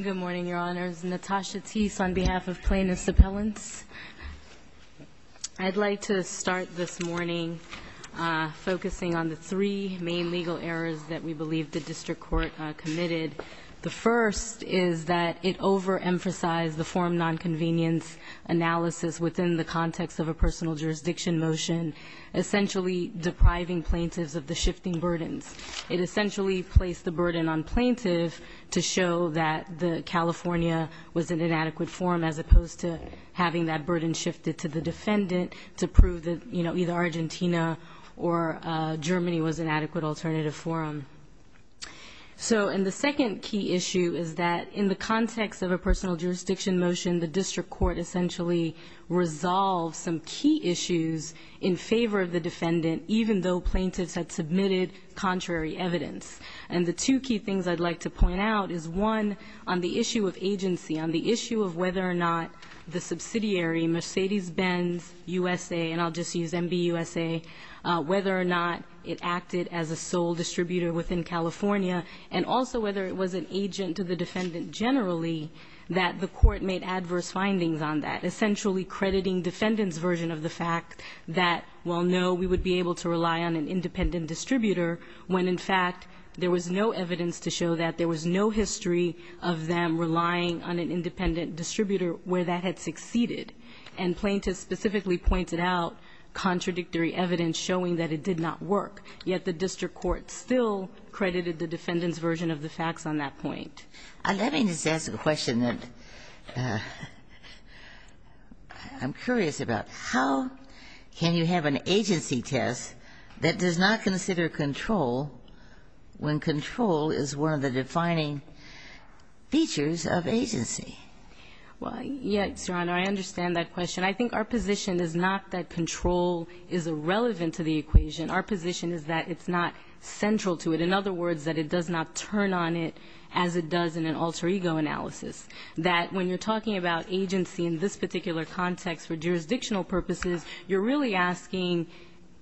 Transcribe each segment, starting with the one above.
Good morning, Your Honors. Natasha Teese on behalf of Plaintiffs' Appellants. I'd like to start this morning focusing on the three main legal errors that we believe the District Court committed. The first is that it overemphasized the form nonconvenience analysis within the context of a personal jurisdiction motion, essentially depriving plaintiffs of the shifting burdens. It essentially placed the burden on plaintiffs to show that California was an inadequate forum as opposed to having that burden shifted to the defendant to prove that either Argentina or Germany was an adequate alternative forum. And the second key issue is that in the context of a personal jurisdiction motion, the District Court essentially resolved some key issues in favor of the defendant, even though plaintiffs had submitted contrary evidence. And the two key things I'd like to point out is one, on the issue of agency, on the issue of whether or not the subsidiary, Mercedes-Benz USA, and I'll just use MBUSA, whether or not it acted as a sole distributor within California, and also whether it was an agent to the defendant generally, that the Court made adverse findings on that, essentially crediting defendants' version of the fact that, well, no, we would be able to rely on an independent distributor when, in fact, there was no evidence to show that. There was no history of them relying on an independent distributor where that had succeeded. And plaintiffs specifically pointed out contradictory evidence showing that it did not work. Yet the District Court still credited the defendants' version of the facts on that point. Ginsburg. Let me just ask a question that I'm curious about. How can you have an agency test that does not consider control when control is one of the defining features of agency? Well, yes, Your Honor, I understand that question. I think our position is not that control is irrelevant to the equation. Our position is that it's not central to it. In other words, that it does not turn on it as it does in an alter ego analysis. That when you're talking about agency in this particular context for jurisdictional purposes, you're really asking,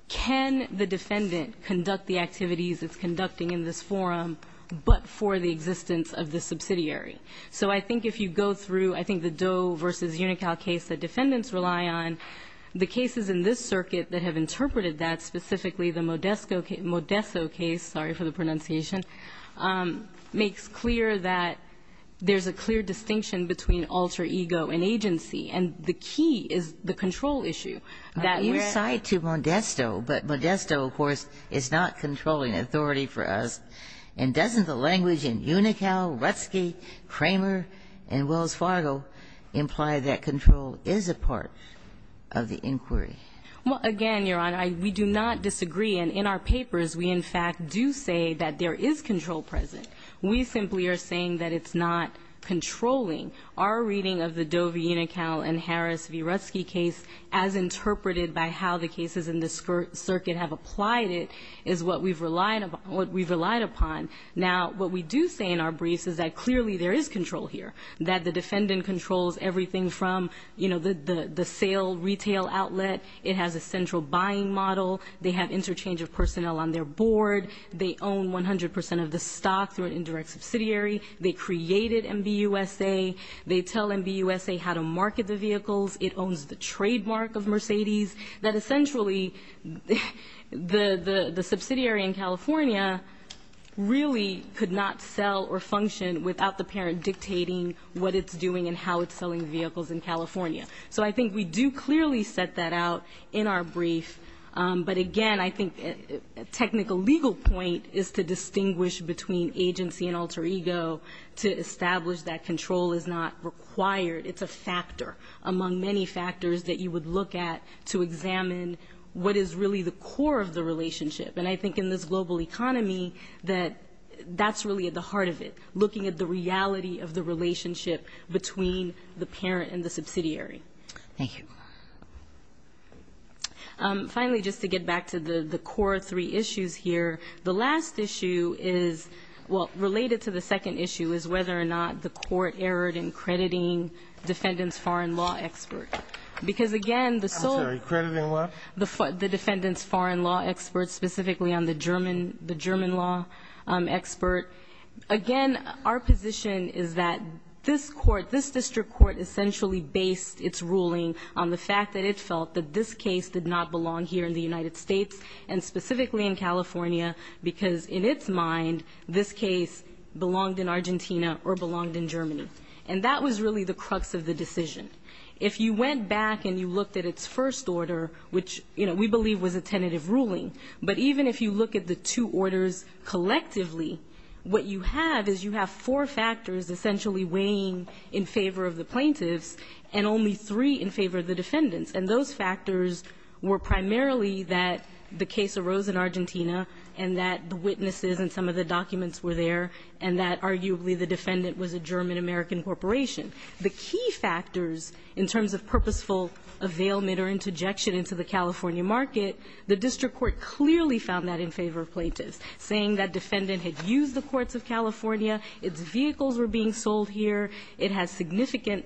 can the defendant conduct the activities it's conducting in this forum, but for the existence of the subsidiary? So I think if you go through, I think the Doe v. Unocal case that defendants rely on, the cases in this circuit that have interpreted that, specifically the Modesso case, sorry for the pronunciation, makes clear that there's a clear distinction between alter ego and agency. And the key is the control issue. You side to Modesto, but Modesto, of course, is not controlling authority for us. And doesn't the language in Unocal, Rutzke, Kramer, and Wells Fargo imply that control is a part of the inquiry? Well, again, Your Honor, we do not disagree. And in our papers, we in fact do say that there is control present. We simply are saying that it's not controlling. Our reading of the Doe v. Unocal and Harris v. Rutzke case, as interpreted by how the cases in this circuit have applied it, is what we've relied upon. Now, what we do say in our briefs is that clearly there is control here, that the It has a central buying model. They have interchange of personnel on their board. They own 100 percent of the stock through an indirect subsidiary. They created MBUSA. They tell MBUSA how to market the vehicles. It owns the trademark of Mercedes, that essentially the subsidiary in California really could not sell or function without the parent dictating what it's doing and how it's selling vehicles in California. So I think we do clearly set that out in our brief. But again, I think a technical legal point is to distinguish between agency and alter ego to establish that control is not required. It's a factor among many factors that you would look at to examine what is really the core of the relationship. And I think in this global economy that that's really at the heart of it, looking at the Thank you. Finally, just to get back to the core three issues here, the last issue is, well, related to the second issue, is whether or not the court erred in crediting defendant's foreign law expert. Because, again, the sole I'm sorry, crediting law? The defendant's foreign law expert, specifically on the German, the German law expert, again, our position is that this court, this district court essentially based its ruling on the fact that it felt that this case did not belong here in the United States, and specifically in California, because in its mind, this case belonged in Argentina or belonged in Germany. And that was really the crux of the decision. If you went back and you looked at its first order, which we believe was a tentative ruling, but even if you look at the two orders collectively, what you have is you have four factors essentially weighing in favor of the plaintiffs, and only three in favor of the defendants. And those factors were primarily that the case arose in Argentina, and that the witnesses and some of the documents were there, and that arguably the defendant was a German-American corporation. The key factors in terms of purposeful availment or interjection into the California market, the district court clearly found that in favor of plaintiffs, saying that defendant had used the courts of California, its vehicles were being sold here, it has significant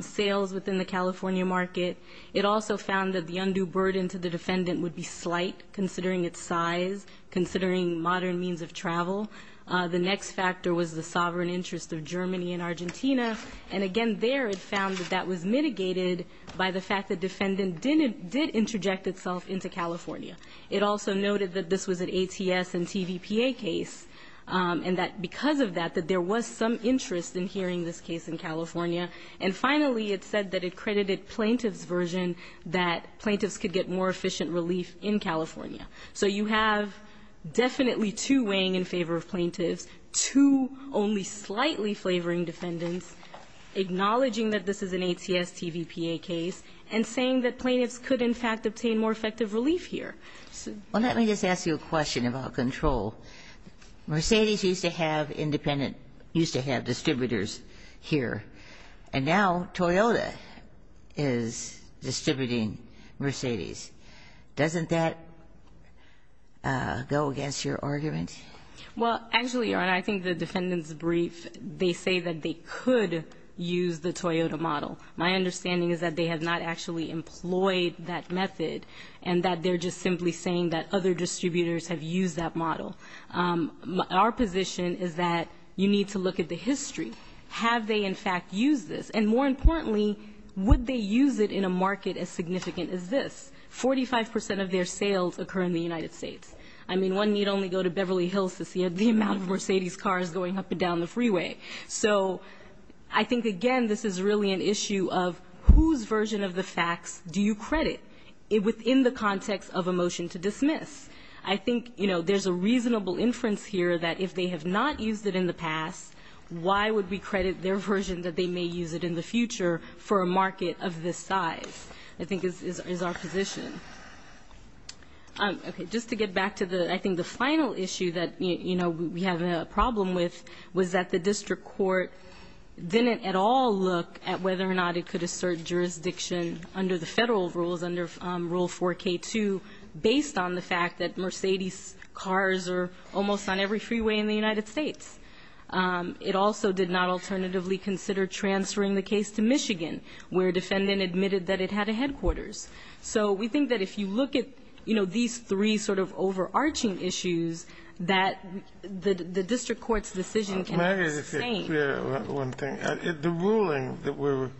sales within the California market. It also found that the undue burden to the defendant would be slight, considering its size, considering modern means of travel. The next factor was the sovereign interest of Germany and Argentina. And again, there it found that that was mitigated by the fact that defendant did interject itself into California. It also noted that this was an ATS and TVPA case, and that because of that, that there was some interest in hearing this case in California. And finally, it said that it credited plaintiff's version that plaintiffs could get more efficient relief in California. So you have definitely two weighing in favor of plaintiffs, two only slightly flavoring defendants, acknowledging that this is an ATS-TVPA case, and saying that plaintiffs could, in fact, obtain more effective relief here. Well, let me just ask you a question about control. Mercedes used to have independent, used to have distributors here. And now Toyota is distributing Mercedes. Doesn't that go against your argument? Well, actually, Your Honor, I think the defendant's brief, they say that they could use the Toyota model. My understanding is that they have not actually employed that method, and that they're just simply saying that other distributors have used that model. Our position is that you need to look at the history. Have they, in fact, used this? And more importantly, would they use it in a market as significant as this? Forty-five percent of their sales occur in the United States. I mean, one need only go to Beverly Hills to see the amount of Mercedes cars going up and down the freeway. So I think, again, this is really an issue of whose version of the facts do you credit within the context of a motion to dismiss? I think there's a reasonable inference here that if they have not used it in the past, why would we credit their version that they may use it in the future for a market of this size, I think is our position. Just to get back to the, I think, the final issue that we have a problem with was that the district court didn't at all look at whether or not it could assert jurisdiction under the Federal rules, under Rule 4K2, based on the fact that Mercedes cars are almost on every freeway in the United States. It also did not alternatively consider transferring the case to Michigan, where a defendant admitted that it had a headquarters. So we think that if you look at, you know, these three sort of overarching issues, that the district court's decision can be the same. The ruling that we're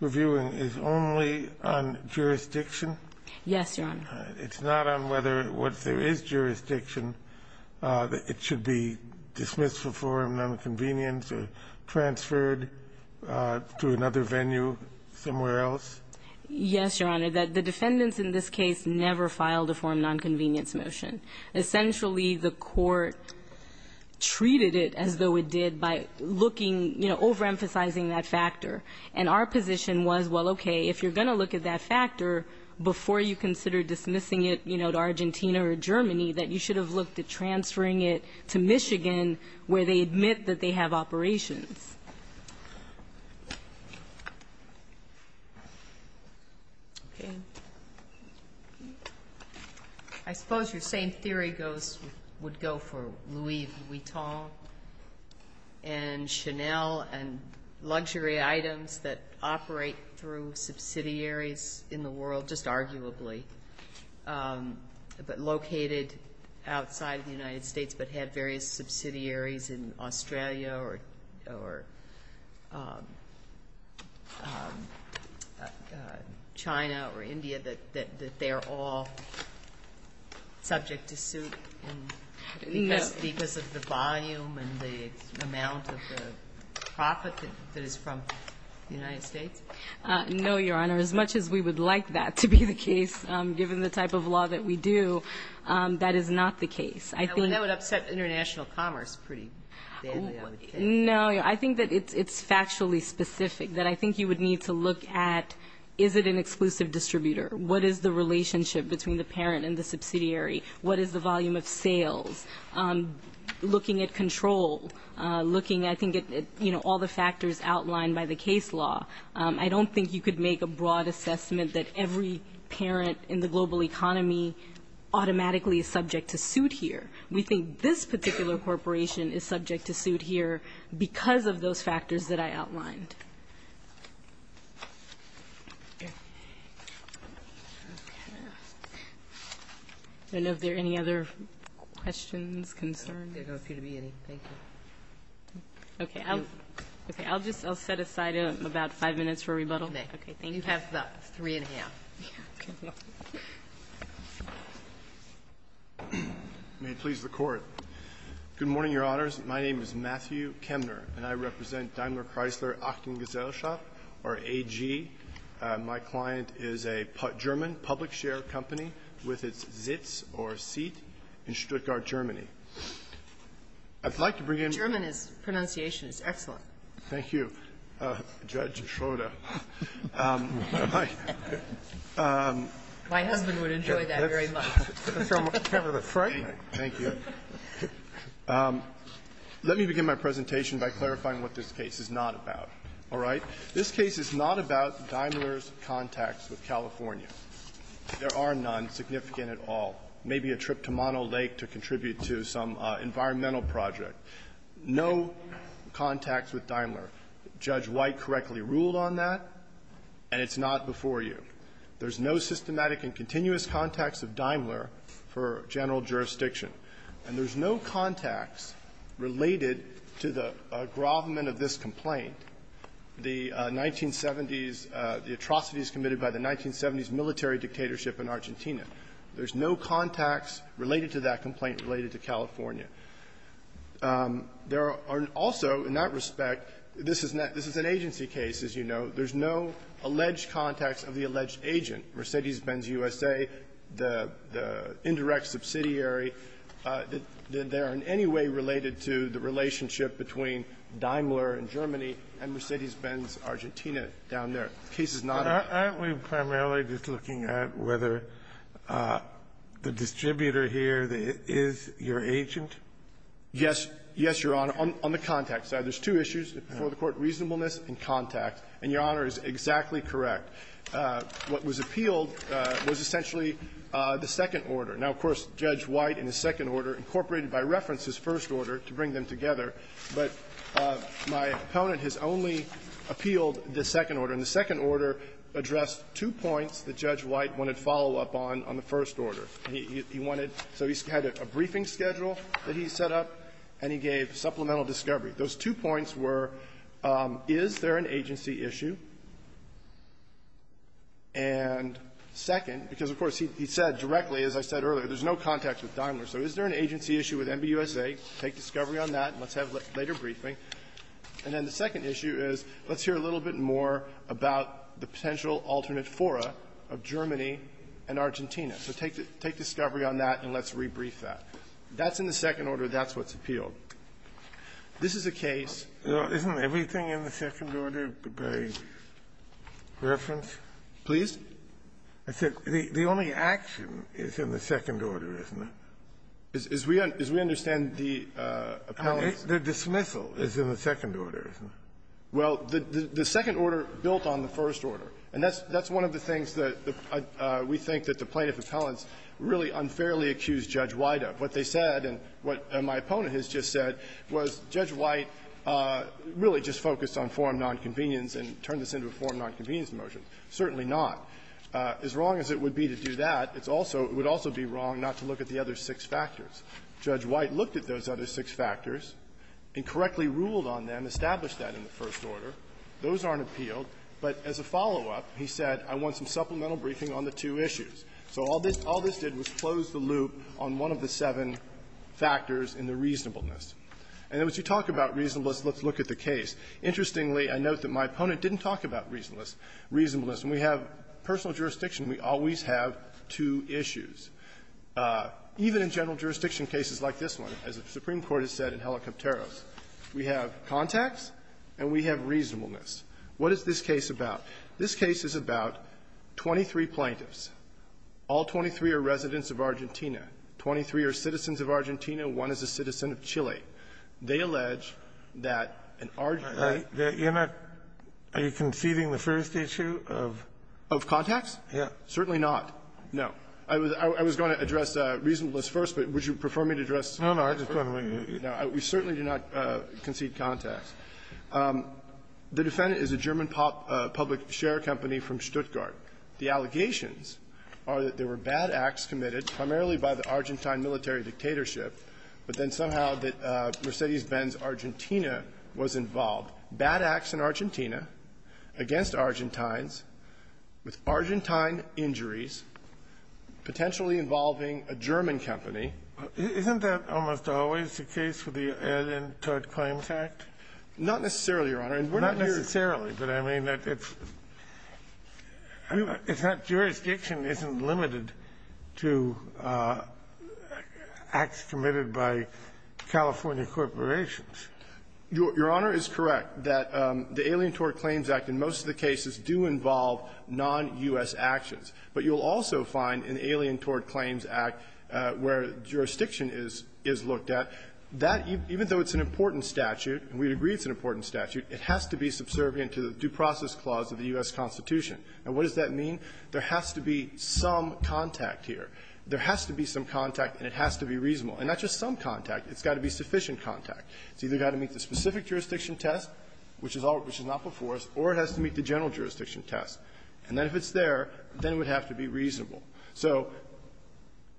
reviewing is only on jurisdiction? Yes, Your Honor. It's not on whether, once there is jurisdiction, it should be dismissed for nonconvenience or transferred to another venue somewhere else? Yes, Your Honor. The defendants in this case never filed a forum nonconvenience motion. Essentially, the court treated it as though it did by looking, you know, overemphasizing that factor. And our position was, well, okay, if you're going to look at that factor before you consider dismissing it, you know, to Argentina or Germany, that you should have looked at transferring it to Michigan, where they admit that they have operations. Okay. I suppose your same theory would go for Louis Vuitton and Chanel and luxury items that operate through subsidiaries in the world, just arguably, but located outside of the United States but have various subsidiaries in Australia or China or India, that they're all subject to suit because of the volume and the amount of the profit that is from the United States? No, Your Honor. As much as we would like that to be the case, given the type of law that we do, that is not the case. I think... That would upset international commerce pretty badly, I would think. No. I think that it's factually specific, that I think you would need to look at, is it an exclusive distributor? What is the relationship between the parent and the subsidiary? What is the volume of sales? Looking at control, looking, I think, at, you know, all the factors outlined by the case law, I don't think you could make a broad assessment that every parent in the global economy automatically is subject to suit here. We think this particular corporation is subject to suit here because of those factors that I outlined. Okay. And if there are any other questions, concerns? There don't appear to be any. Thank you. Okay. Okay. I'll just, I'll set aside about five minutes for rebuttal. Okay. Thank you. Thank you. Thank you. Thank you. Thank you. Thank you. Thank you. Thank you. May it please the Court. Good morning, Your Honors. My name is Matthew Kemner, and I represent Daimler-Chrysler-Achtung-Gesellschaft or A.G. My client is a German public share company with its Sitz or seat in Stuttgart, Germany. I'd like to bring in the Court. German pronunciation is excellent. Thank you, Judge Schroeder. My husband would enjoy that very much. Thank you. Let me begin my presentation by clarifying what this case is not about. All right? This case is not about Daimler's contacts with California. There are none significant at all. Maybe a trip to Mono Lake to contribute to some environmental project. No contacts with Daimler. Judge White correctly ruled on that, and it's not before you. There's no systematic and continuous contacts of Daimler for general jurisdiction. And there's no contacts related to the aggravement of this complaint, the 1970s atrocities committed by the 1970s military dictatorship in Argentina. There's no contacts related to that complaint related to California. There are also, in that respect, this is an agency case, as you know. There's no alleged contacts of the alleged agent, Mercedes-Benz USA, the indirect subsidiary. They are in any way related to the relationship between Daimler in Germany and Mercedes-Benz Argentina down there. The case is not about that. Aren't we primarily just looking at whether the distributor here is your agent? Yes. Yes, Your Honor, on the contacts side. There's two issues before the Court, reasonableness and contact. And Your Honor is exactly correct. What was appealed was essentially the second order. Now, of course, Judge White in his second order incorporated by reference his first order to bring them together, but my opponent has only appealed the second order. And the second order addressed two points that Judge White wanted follow-up on on the first order. He wanted so he had a briefing schedule that he set up, and he gave supplemental discovery. Those two points were, is there an agency issue? And second, because, of course, he said directly, as I said earlier, there's no contacts with Daimler, so is there an agency issue with MBUSA? Take discovery on that, and let's have a later briefing. And then the second issue is, let's hear a little bit more about the potential alternate fora of Germany and Argentina. So take discovery on that, and let's rebrief that. That's in the second order. That's what's appealed. This is a case. Isn't everything in the second order by reference? Please. I said the only action is in the second order, isn't it? As we understand the appellant's ---- The dismissal is in the second order, isn't it? Well, the second order built on the first order. And that's one of the things that we think that the plaintiff appellants really unfairly accused Judge White of. What they said and what my opponent has just said was Judge White really just focused on forum nonconvenience and turned this into a forum nonconvenience motion. Certainly not. As wrong as it would be to do that, it's also ---- it would also be wrong not to look at the other six factors. Judge White looked at those other six factors and correctly ruled on them, established that in the first order. Those aren't appealed. But as a follow-up, he said, I want some supplemental briefing on the two issues. So all this did was close the loop on one of the seven factors in the reasonableness. And then once you talk about reasonableness, let's look at the case. Interestingly, I note that my opponent didn't talk about reasonableness. When we have personal jurisdiction, we always have two issues. Even in general jurisdiction cases like this one, as the Supreme Court has said in Helicopteros, we have contacts and we have reasonableness. What is this case about? This case is about 23 plaintiffs. All 23 are residents of Argentina. Twenty-three are citizens of Argentina. One is a citizen of Chile. They allege that an Argentine ---- Kennedy, are you conceding the first issue of ---- Of contacts? Yes. Certainly not. No. I was going to address reasonableness first, but would you prefer me to address We certainly do not concede contacts. The defendant is a German public share company from Stuttgart. The allegations are that there were bad acts committed primarily by the Argentine military dictatorship, but then somehow that Mercedes-Benz Argentina was involved. Bad acts in Argentina against Argentines with Argentine injuries potentially involving a German company. Isn't that almost always the case with the Alien Tort Claims Act? Not necessarily, Your Honor. Not necessarily, but I mean that it's ---- I mean, if that jurisdiction isn't limited to acts committed by California corporations. Your Honor is correct that the Alien Tort Claims Act in most of the cases do involve non-U.S. actions. But you'll also find in the Alien Tort Claims Act where jurisdiction is looked at, that even though it's an important statute, and we agree it's an important statute, it has to be subservient to the Due Process Clause of the U.S. Constitution. And what does that mean? There has to be some contact here. There has to be some contact, and it has to be reasonable. And not just some contact. It's got to be sufficient contact. It's either got to meet the specific jurisdiction test, which is not before us, or it has to meet the general jurisdiction test. And then if it's there, then it would have to be reasonable. So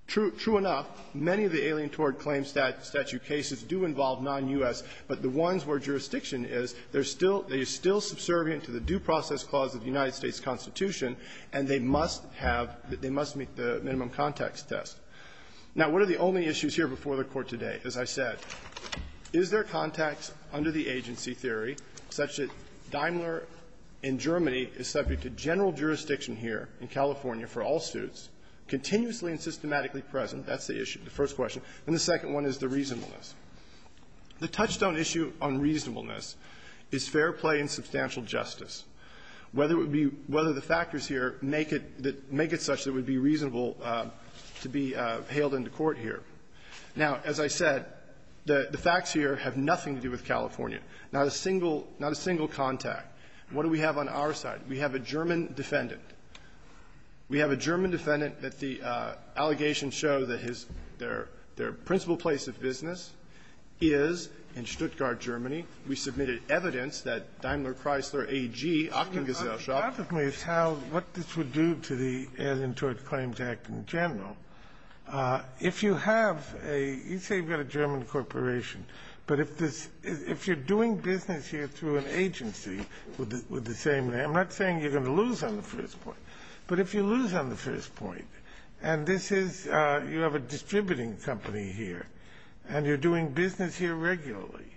true enough, many of the Alien Tort Claims statute cases do involve non-U.S. But the ones where jurisdiction is, they're still ---- they're still subservient to the Due Process Clause of the United States Constitution, and they must have ---- they must meet the minimum context test. Now, what are the only issues here before the Court today? As I said, is there context under the agency theory such that Daimler in Germany is subject to general jurisdiction here in California for all suits, continuously and systematically present? That's the issue, the first question. And the second one is the reasonableness. The touchstone issue on reasonableness is fair play and substantial justice. Whether it would be ---- whether the factors here make it such that it would be reasonable to be hailed into court here. Now, as I said, the facts here have nothing to do with California. Not a single ---- not a single contact. What do we have on our side? We have a German defendant. We have a German defendant that the allegations show that his ---- their principal place of business is in Stuttgart, Germany. We submitted evidence that Daimler Chrysler AG, Aachen Gazelle Shoppe ---- The problem is how ---- what this would do to the Alien Tort Claims Act in general. If you have a ---- you say you've got a German corporation, but if this ---- if you're doing business here through an agency with the same name, I'm not saying you're going to lose on the first point. But if you lose on the first point, and this is ---- you have a distributing company here, and you're doing business here regularly,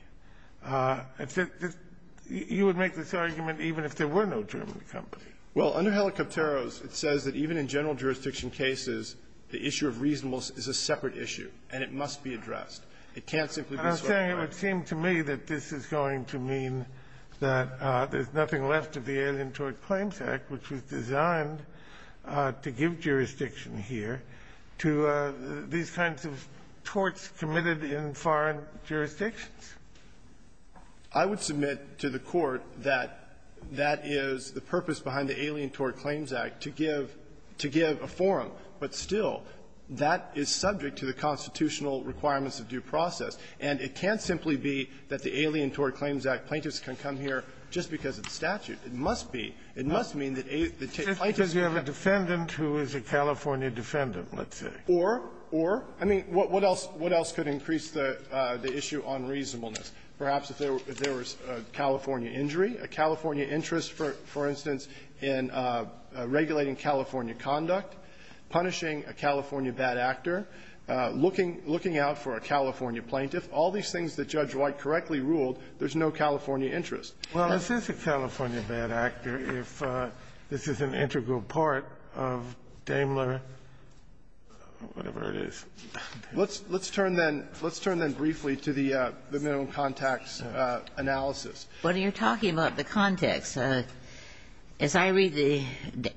you would make this argument even if there were no German company. Well, under Helicopteros, it says that even in general jurisdiction cases, the issue of reasonableness is a separate issue, and it must be addressed. It can't simply be ---- I'm saying it would seem to me that this is going to mean that there's nothing left of the Alien Tort Claims Act, which was designed to give jurisdiction here to these kinds of torts committed in foreign jurisdictions. I would submit to the Court that that is the purpose behind the Alien Tort Claims Act, to give ---- to give a forum, but still that is subject to the constitutional requirements of due process. And it can't simply be that the Alien Tort Claims Act plaintiffs can come here just because it's statute. It must be. It must mean that a ---- It's because you have a defendant who is a California defendant, let's say. Or, or, I mean, what else ---- what else could increase the issue on reasonableness? Perhaps if there was a California injury, a California interest, for instance, in regulating California conduct, punishing a California bad actor, looking out for a California plaintiff, all these things that Judge White correctly ruled, there's no California interest. Well, is this a California bad actor if this is an integral part of Daimler, whatever it is? Let's turn then, let's turn then briefly to the Minimum Contacts analysis. What are you talking about, the contacts? As I read the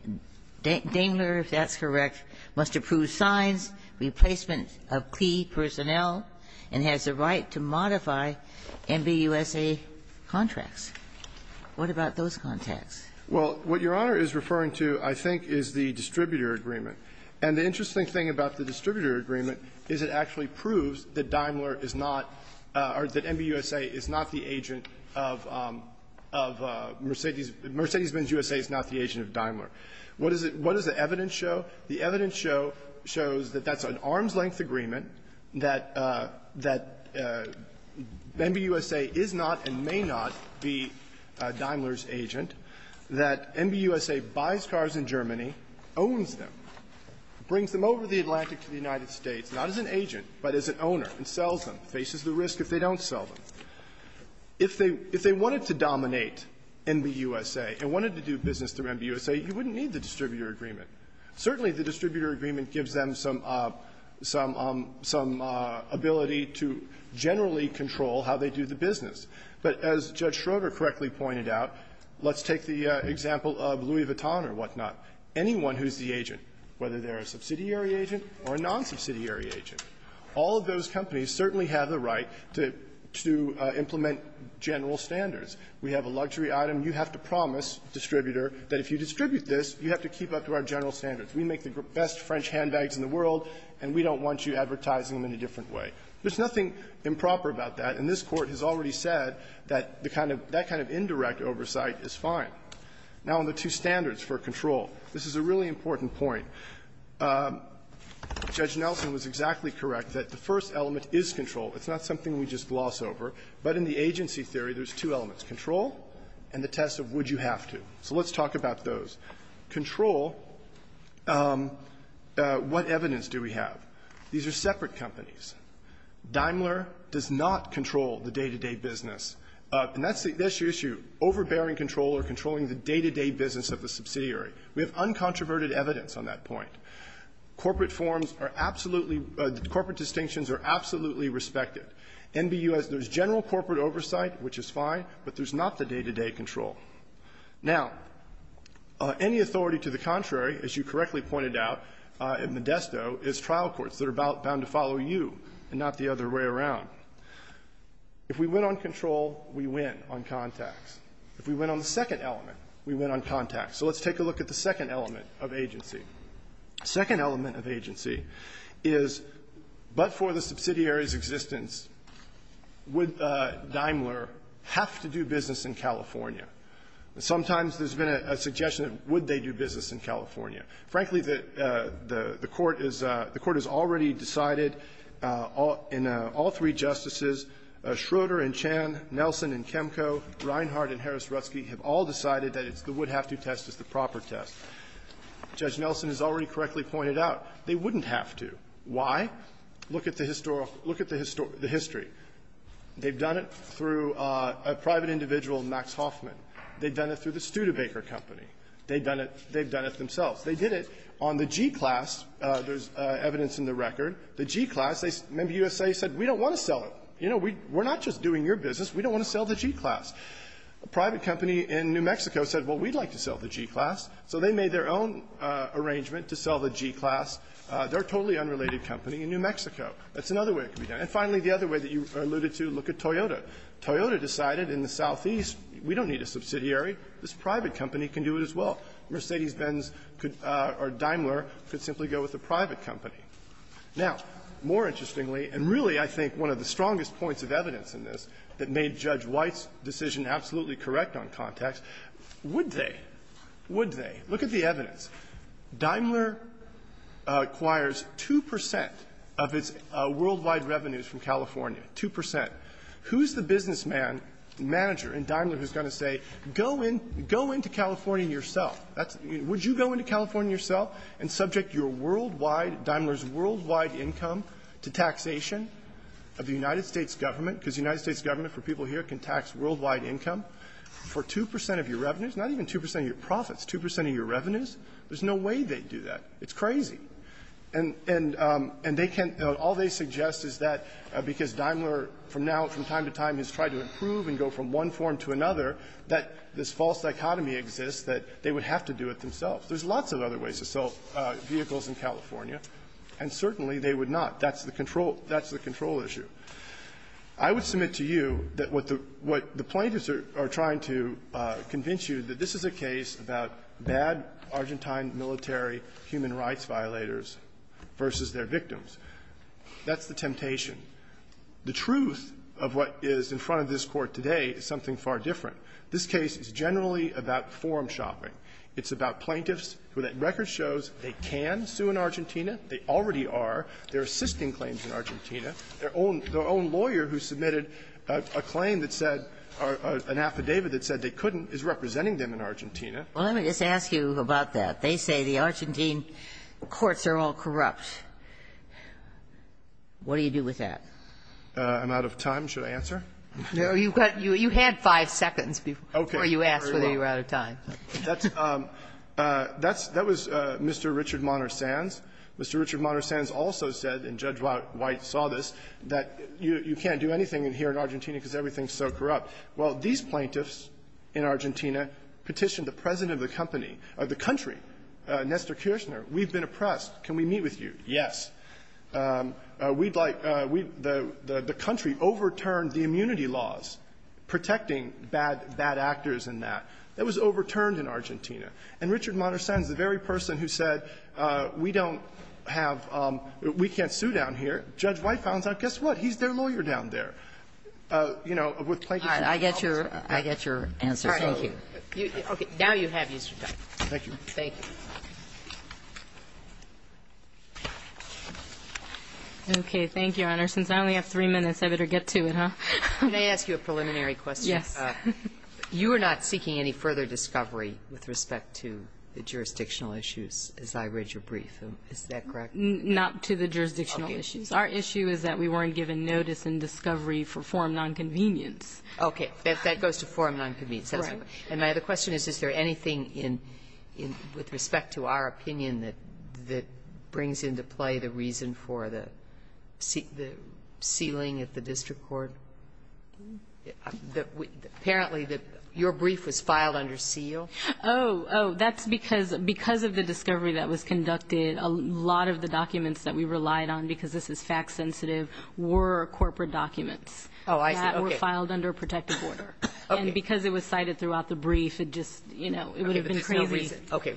Daimler, if that's correct, must approve signs, replacement of key personnel, and has the right to modify MBUSA contracts. What about those contacts? Well, what Your Honor is referring to, I think, is the distributor agreement. And the interesting thing about the distributor agreement is it actually proves that Daimler is not or that MBUSA is not the agent of Mercedes ---- Mercedes Benz USA is not the agent of Daimler. What does the evidence show? The evidence shows that that's an arm's-length agreement, that MBUSA is not and may not be Daimler's agent, that MBUSA buys cars in Germany, owns them, brings them over the Atlantic to the United States, not as an agent, but as an owner, and sells them, faces the risk if they don't sell them. If they wanted to dominate MBUSA and wanted to do business through MBUSA, you wouldn't need the distributor agreement. Certainly, the distributor agreement gives them some ---- some ability to generally control how they do the business. But as Judge Schroeder correctly pointed out, let's take the example of Louis Vuitton or whatnot, anyone who's the agent, whether they're a subsidiary agent or a non-subsidiary agent, all of those companies certainly have the right to implement general standards. We have a luxury item. You have to promise the distributor that if you distribute this, you have to keep up to our general standards. We make the best French handbags in the world, and we don't want you advertising them in a different way. There's nothing improper about that, and this Court has already said that the kind of ---- that kind of indirect oversight is fine. Now, on the two standards for control, this is a really important point. Judge Nelson was exactly correct that the first element is control. It's not something we just gloss over, but in the agency theory, there's two elements, control and the test of would you have to. So let's talk about those. Control, what evidence do we have? These are separate companies. Daimler does not control the day-to-day business. And that's the issue. Overbearing control or controlling the day-to-day business of the subsidiary. We have uncontroverted evidence on that point. Corporate forms are absolutely ---- corporate distinctions are absolutely respected. NBU has the general corporate oversight, which is fine, but there's not the day-to-day control. Now, any authority to the contrary, as you correctly pointed out in Modesto, is trial courts that are bound to follow you and not the other way around. If we went on control, we win on contacts. If we went on the second element, we win on contacts. So let's take a look at the second element of agency. The second element of agency is, but for the subsidiary's existence, would Daimler have to do business in California? Sometimes there's been a suggestion of would they do business in California. Frankly, the Court has already decided in all three justices, Schroeder and Chan, Nelson and Kemko, Reinhart and Harris-Rutzke, have all decided that the would-have-to test is the proper test. Judge Nelson has already correctly pointed out they wouldn't have to. Why? Look at the historical ---- look at the history. They've done it through a private individual, Max Hoffman. They've done it through the Studebaker Company. They've done it themselves. They did it on the G-Class. There's evidence in the record. The G-Class, they ---- Member USA said, we don't want to sell it. You know, we're not just doing your business. We don't want to sell the G-Class. A private company in New Mexico said, well, we'd like to sell the G-Class. So they made their own arrangement to sell the G-Class. They're a totally unrelated company in New Mexico. That's another way it could be done. And finally, the other way that you alluded to, look at Toyota. Toyota decided in the southeast, we don't need a subsidiary. This private company can do it as well. Mercedes-Benz or Daimler could simply go with a private company. Now, more interestingly, and really I think one of the strongest points of evidence in this that made Judge White's decision absolutely correct on context, would they? Would they? Look at the evidence. Daimler acquires 2 percent of its worldwide revenues from California, 2 percent. Who's the businessman, manager in Daimler who's going to say, go into California yourself? Would you go into California yourself and subject your worldwide, Daimler's worldwide income to taxation of the United States government? Because the United States government, for people here, can tax worldwide income for 2 percent of your revenues, not even 2 percent of your profits, 2 percent of your revenues. There's no way they'd do that. It's crazy. And they can't, all they suggest is that because Daimler from now, from time to time has tried to improve and go from one form to another, that this false dichotomy exists that they would have to do it themselves. There's lots of other ways to sell vehicles in California, and certainly they would not. That's the control issue. I would submit to you that what the plaintiffs are trying to convince you that this is a case about bad Argentine military human rights violators versus their victims. That's the temptation. The truth of what is in front of this Court today is something far different. This case is generally about forum shopping. It's about plaintiffs who that record shows they can sue in Argentina. They already are. They're assisting claims in Argentina. Their own lawyer who submitted a claim that said or an affidavit that said they couldn't sue is representing them in Argentina. Well, let me just ask you about that. They say the Argentine courts are all corrupt. What do you do with that? I'm out of time. Should I answer? No. You've got you had five seconds before you asked whether you were out of time. That's Mr. Richard Monner-Sands. Mr. Richard Monner-Sands also said, and Judge White saw this, that you can't do anything here in Argentina because everything is so corrupt. Well, these plaintiffs in Argentina petitioned the president of the company, of the country, Nestor Kirchner. We've been oppressed. Can we meet with you? Yes. We'd like the country overturned the immunity laws, protecting bad actors and that. That was overturned in Argentina. And Richard Monner-Sands, the very person who said we don't have we can't sue down here, Judge White found out, guess what, he's their lawyer down there. All right. I get your answer. Thank you. Okay. Now you have your time. Thank you. Thank you. Okay. Thank you, Your Honor. Since I only have three minutes, I better get to it, huh? Can I ask you a preliminary question? Yes. You are not seeking any further discovery with respect to the jurisdictional issues, as I read your brief. Is that correct? Not to the jurisdictional issues. Our issue is that we weren't given notice and discovery for form nonconvenience. Okay. That goes to form nonconvenience. Right. And my other question is, is there anything with respect to our opinion that brings into play the reason for the sealing at the district court? Apparently your brief was filed under seal. Oh, that's because of the discovery that was conducted, a lot of the documents that we relied on, because this is fact sensitive, were corporate documents. Oh, I see. Okay. That were filed under protective order. Okay. And because it was cited throughout the brief, it just, you know, it would have been crazy to redact it. Okay.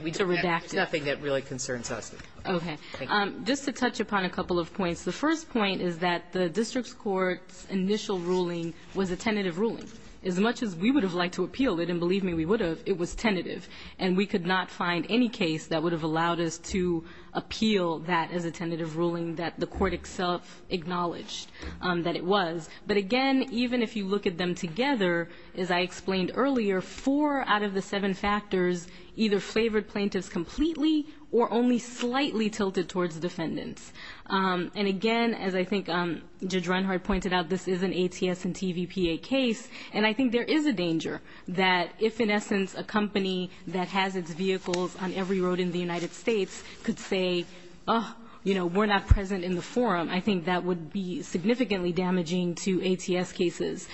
There's nothing that really concerns us. Okay. Thank you. Just to touch upon a couple of points. The first point is that the district court's initial ruling was a tentative ruling. As much as we would have liked to appeal it, and believe me, we would have, it was tentative, and we could not find any case that would have allowed us to appeal the tentative ruling that the court itself acknowledged that it was. But, again, even if you look at them together, as I explained earlier, four out of the seven factors either flavored plaintiffs completely or only slightly tilted towards defendants. And, again, as I think Judge Renhard pointed out, this is an ATS and TVPA case, and I think there is a danger that if, in essence, a company that has its own agency says, oh, you know, we're not present in the forum, I think that would be significantly damaging to ATS cases.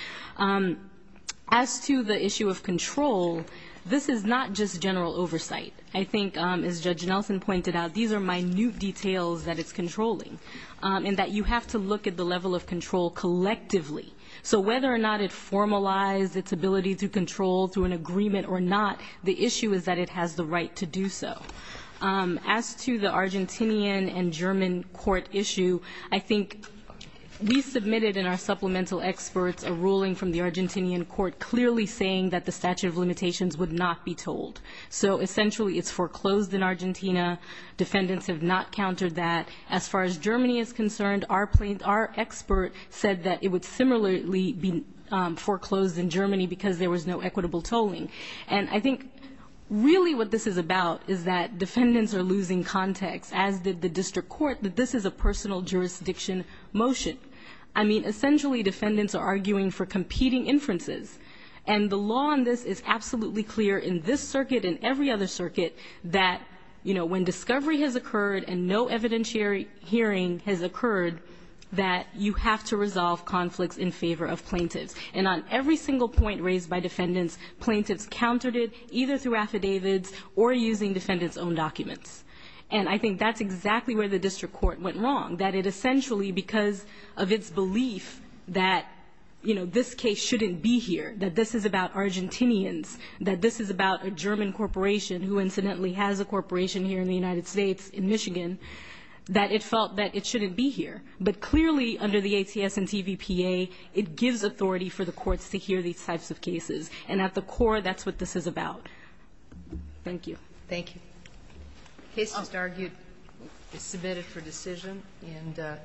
As to the issue of control, this is not just general oversight. I think, as Judge Nelson pointed out, these are minute details that it's controlling, and that you have to look at the level of control collectively. So whether or not it formalized its ability to control through an agreement or not, the issue is that it has the right to do so. As to the Argentinian and German court issue, I think we submitted in our supplemental experts a ruling from the Argentinian court clearly saying that the statute of limitations would not be told. So, essentially, it's foreclosed in Argentina. Defendants have not countered that. As far as Germany is concerned, our expert said that it would similarly be foreclosed in Germany because there was no equitable tolling. And I think really what this is about is that defendants are losing context, as did the district court, that this is a personal jurisdiction motion. I mean, essentially, defendants are arguing for competing inferences. And the law on this is absolutely clear in this circuit and every other circuit that, you know, when discovery has occurred and no evidentiary hearing has occurred, that you have to resolve conflicts in favor of plaintiffs. And on every single point raised by defendants, plaintiffs countered it either through affidavits or using defendants' own documents. And I think that's exactly where the district court went wrong, that it essentially, because of its belief that, you know, this case shouldn't be here, that this is about Argentinians, that this is about a German corporation who incidentally has a corporation here in the United States in Michigan, that it felt that it shouldn't be here. But clearly, under the ATS and TVPA, it gives authority for the courts to hear these types of cases. And at the core, that's what this is about. Thank you. Thank you. The case just argued is submitted for decision. And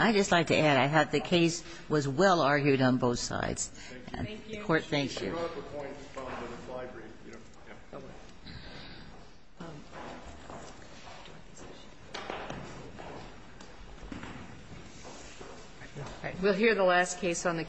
I just like to add, I had the case was well argued on both sides. Thank you. The court, thank you. Thank you. We'll hear the last case on the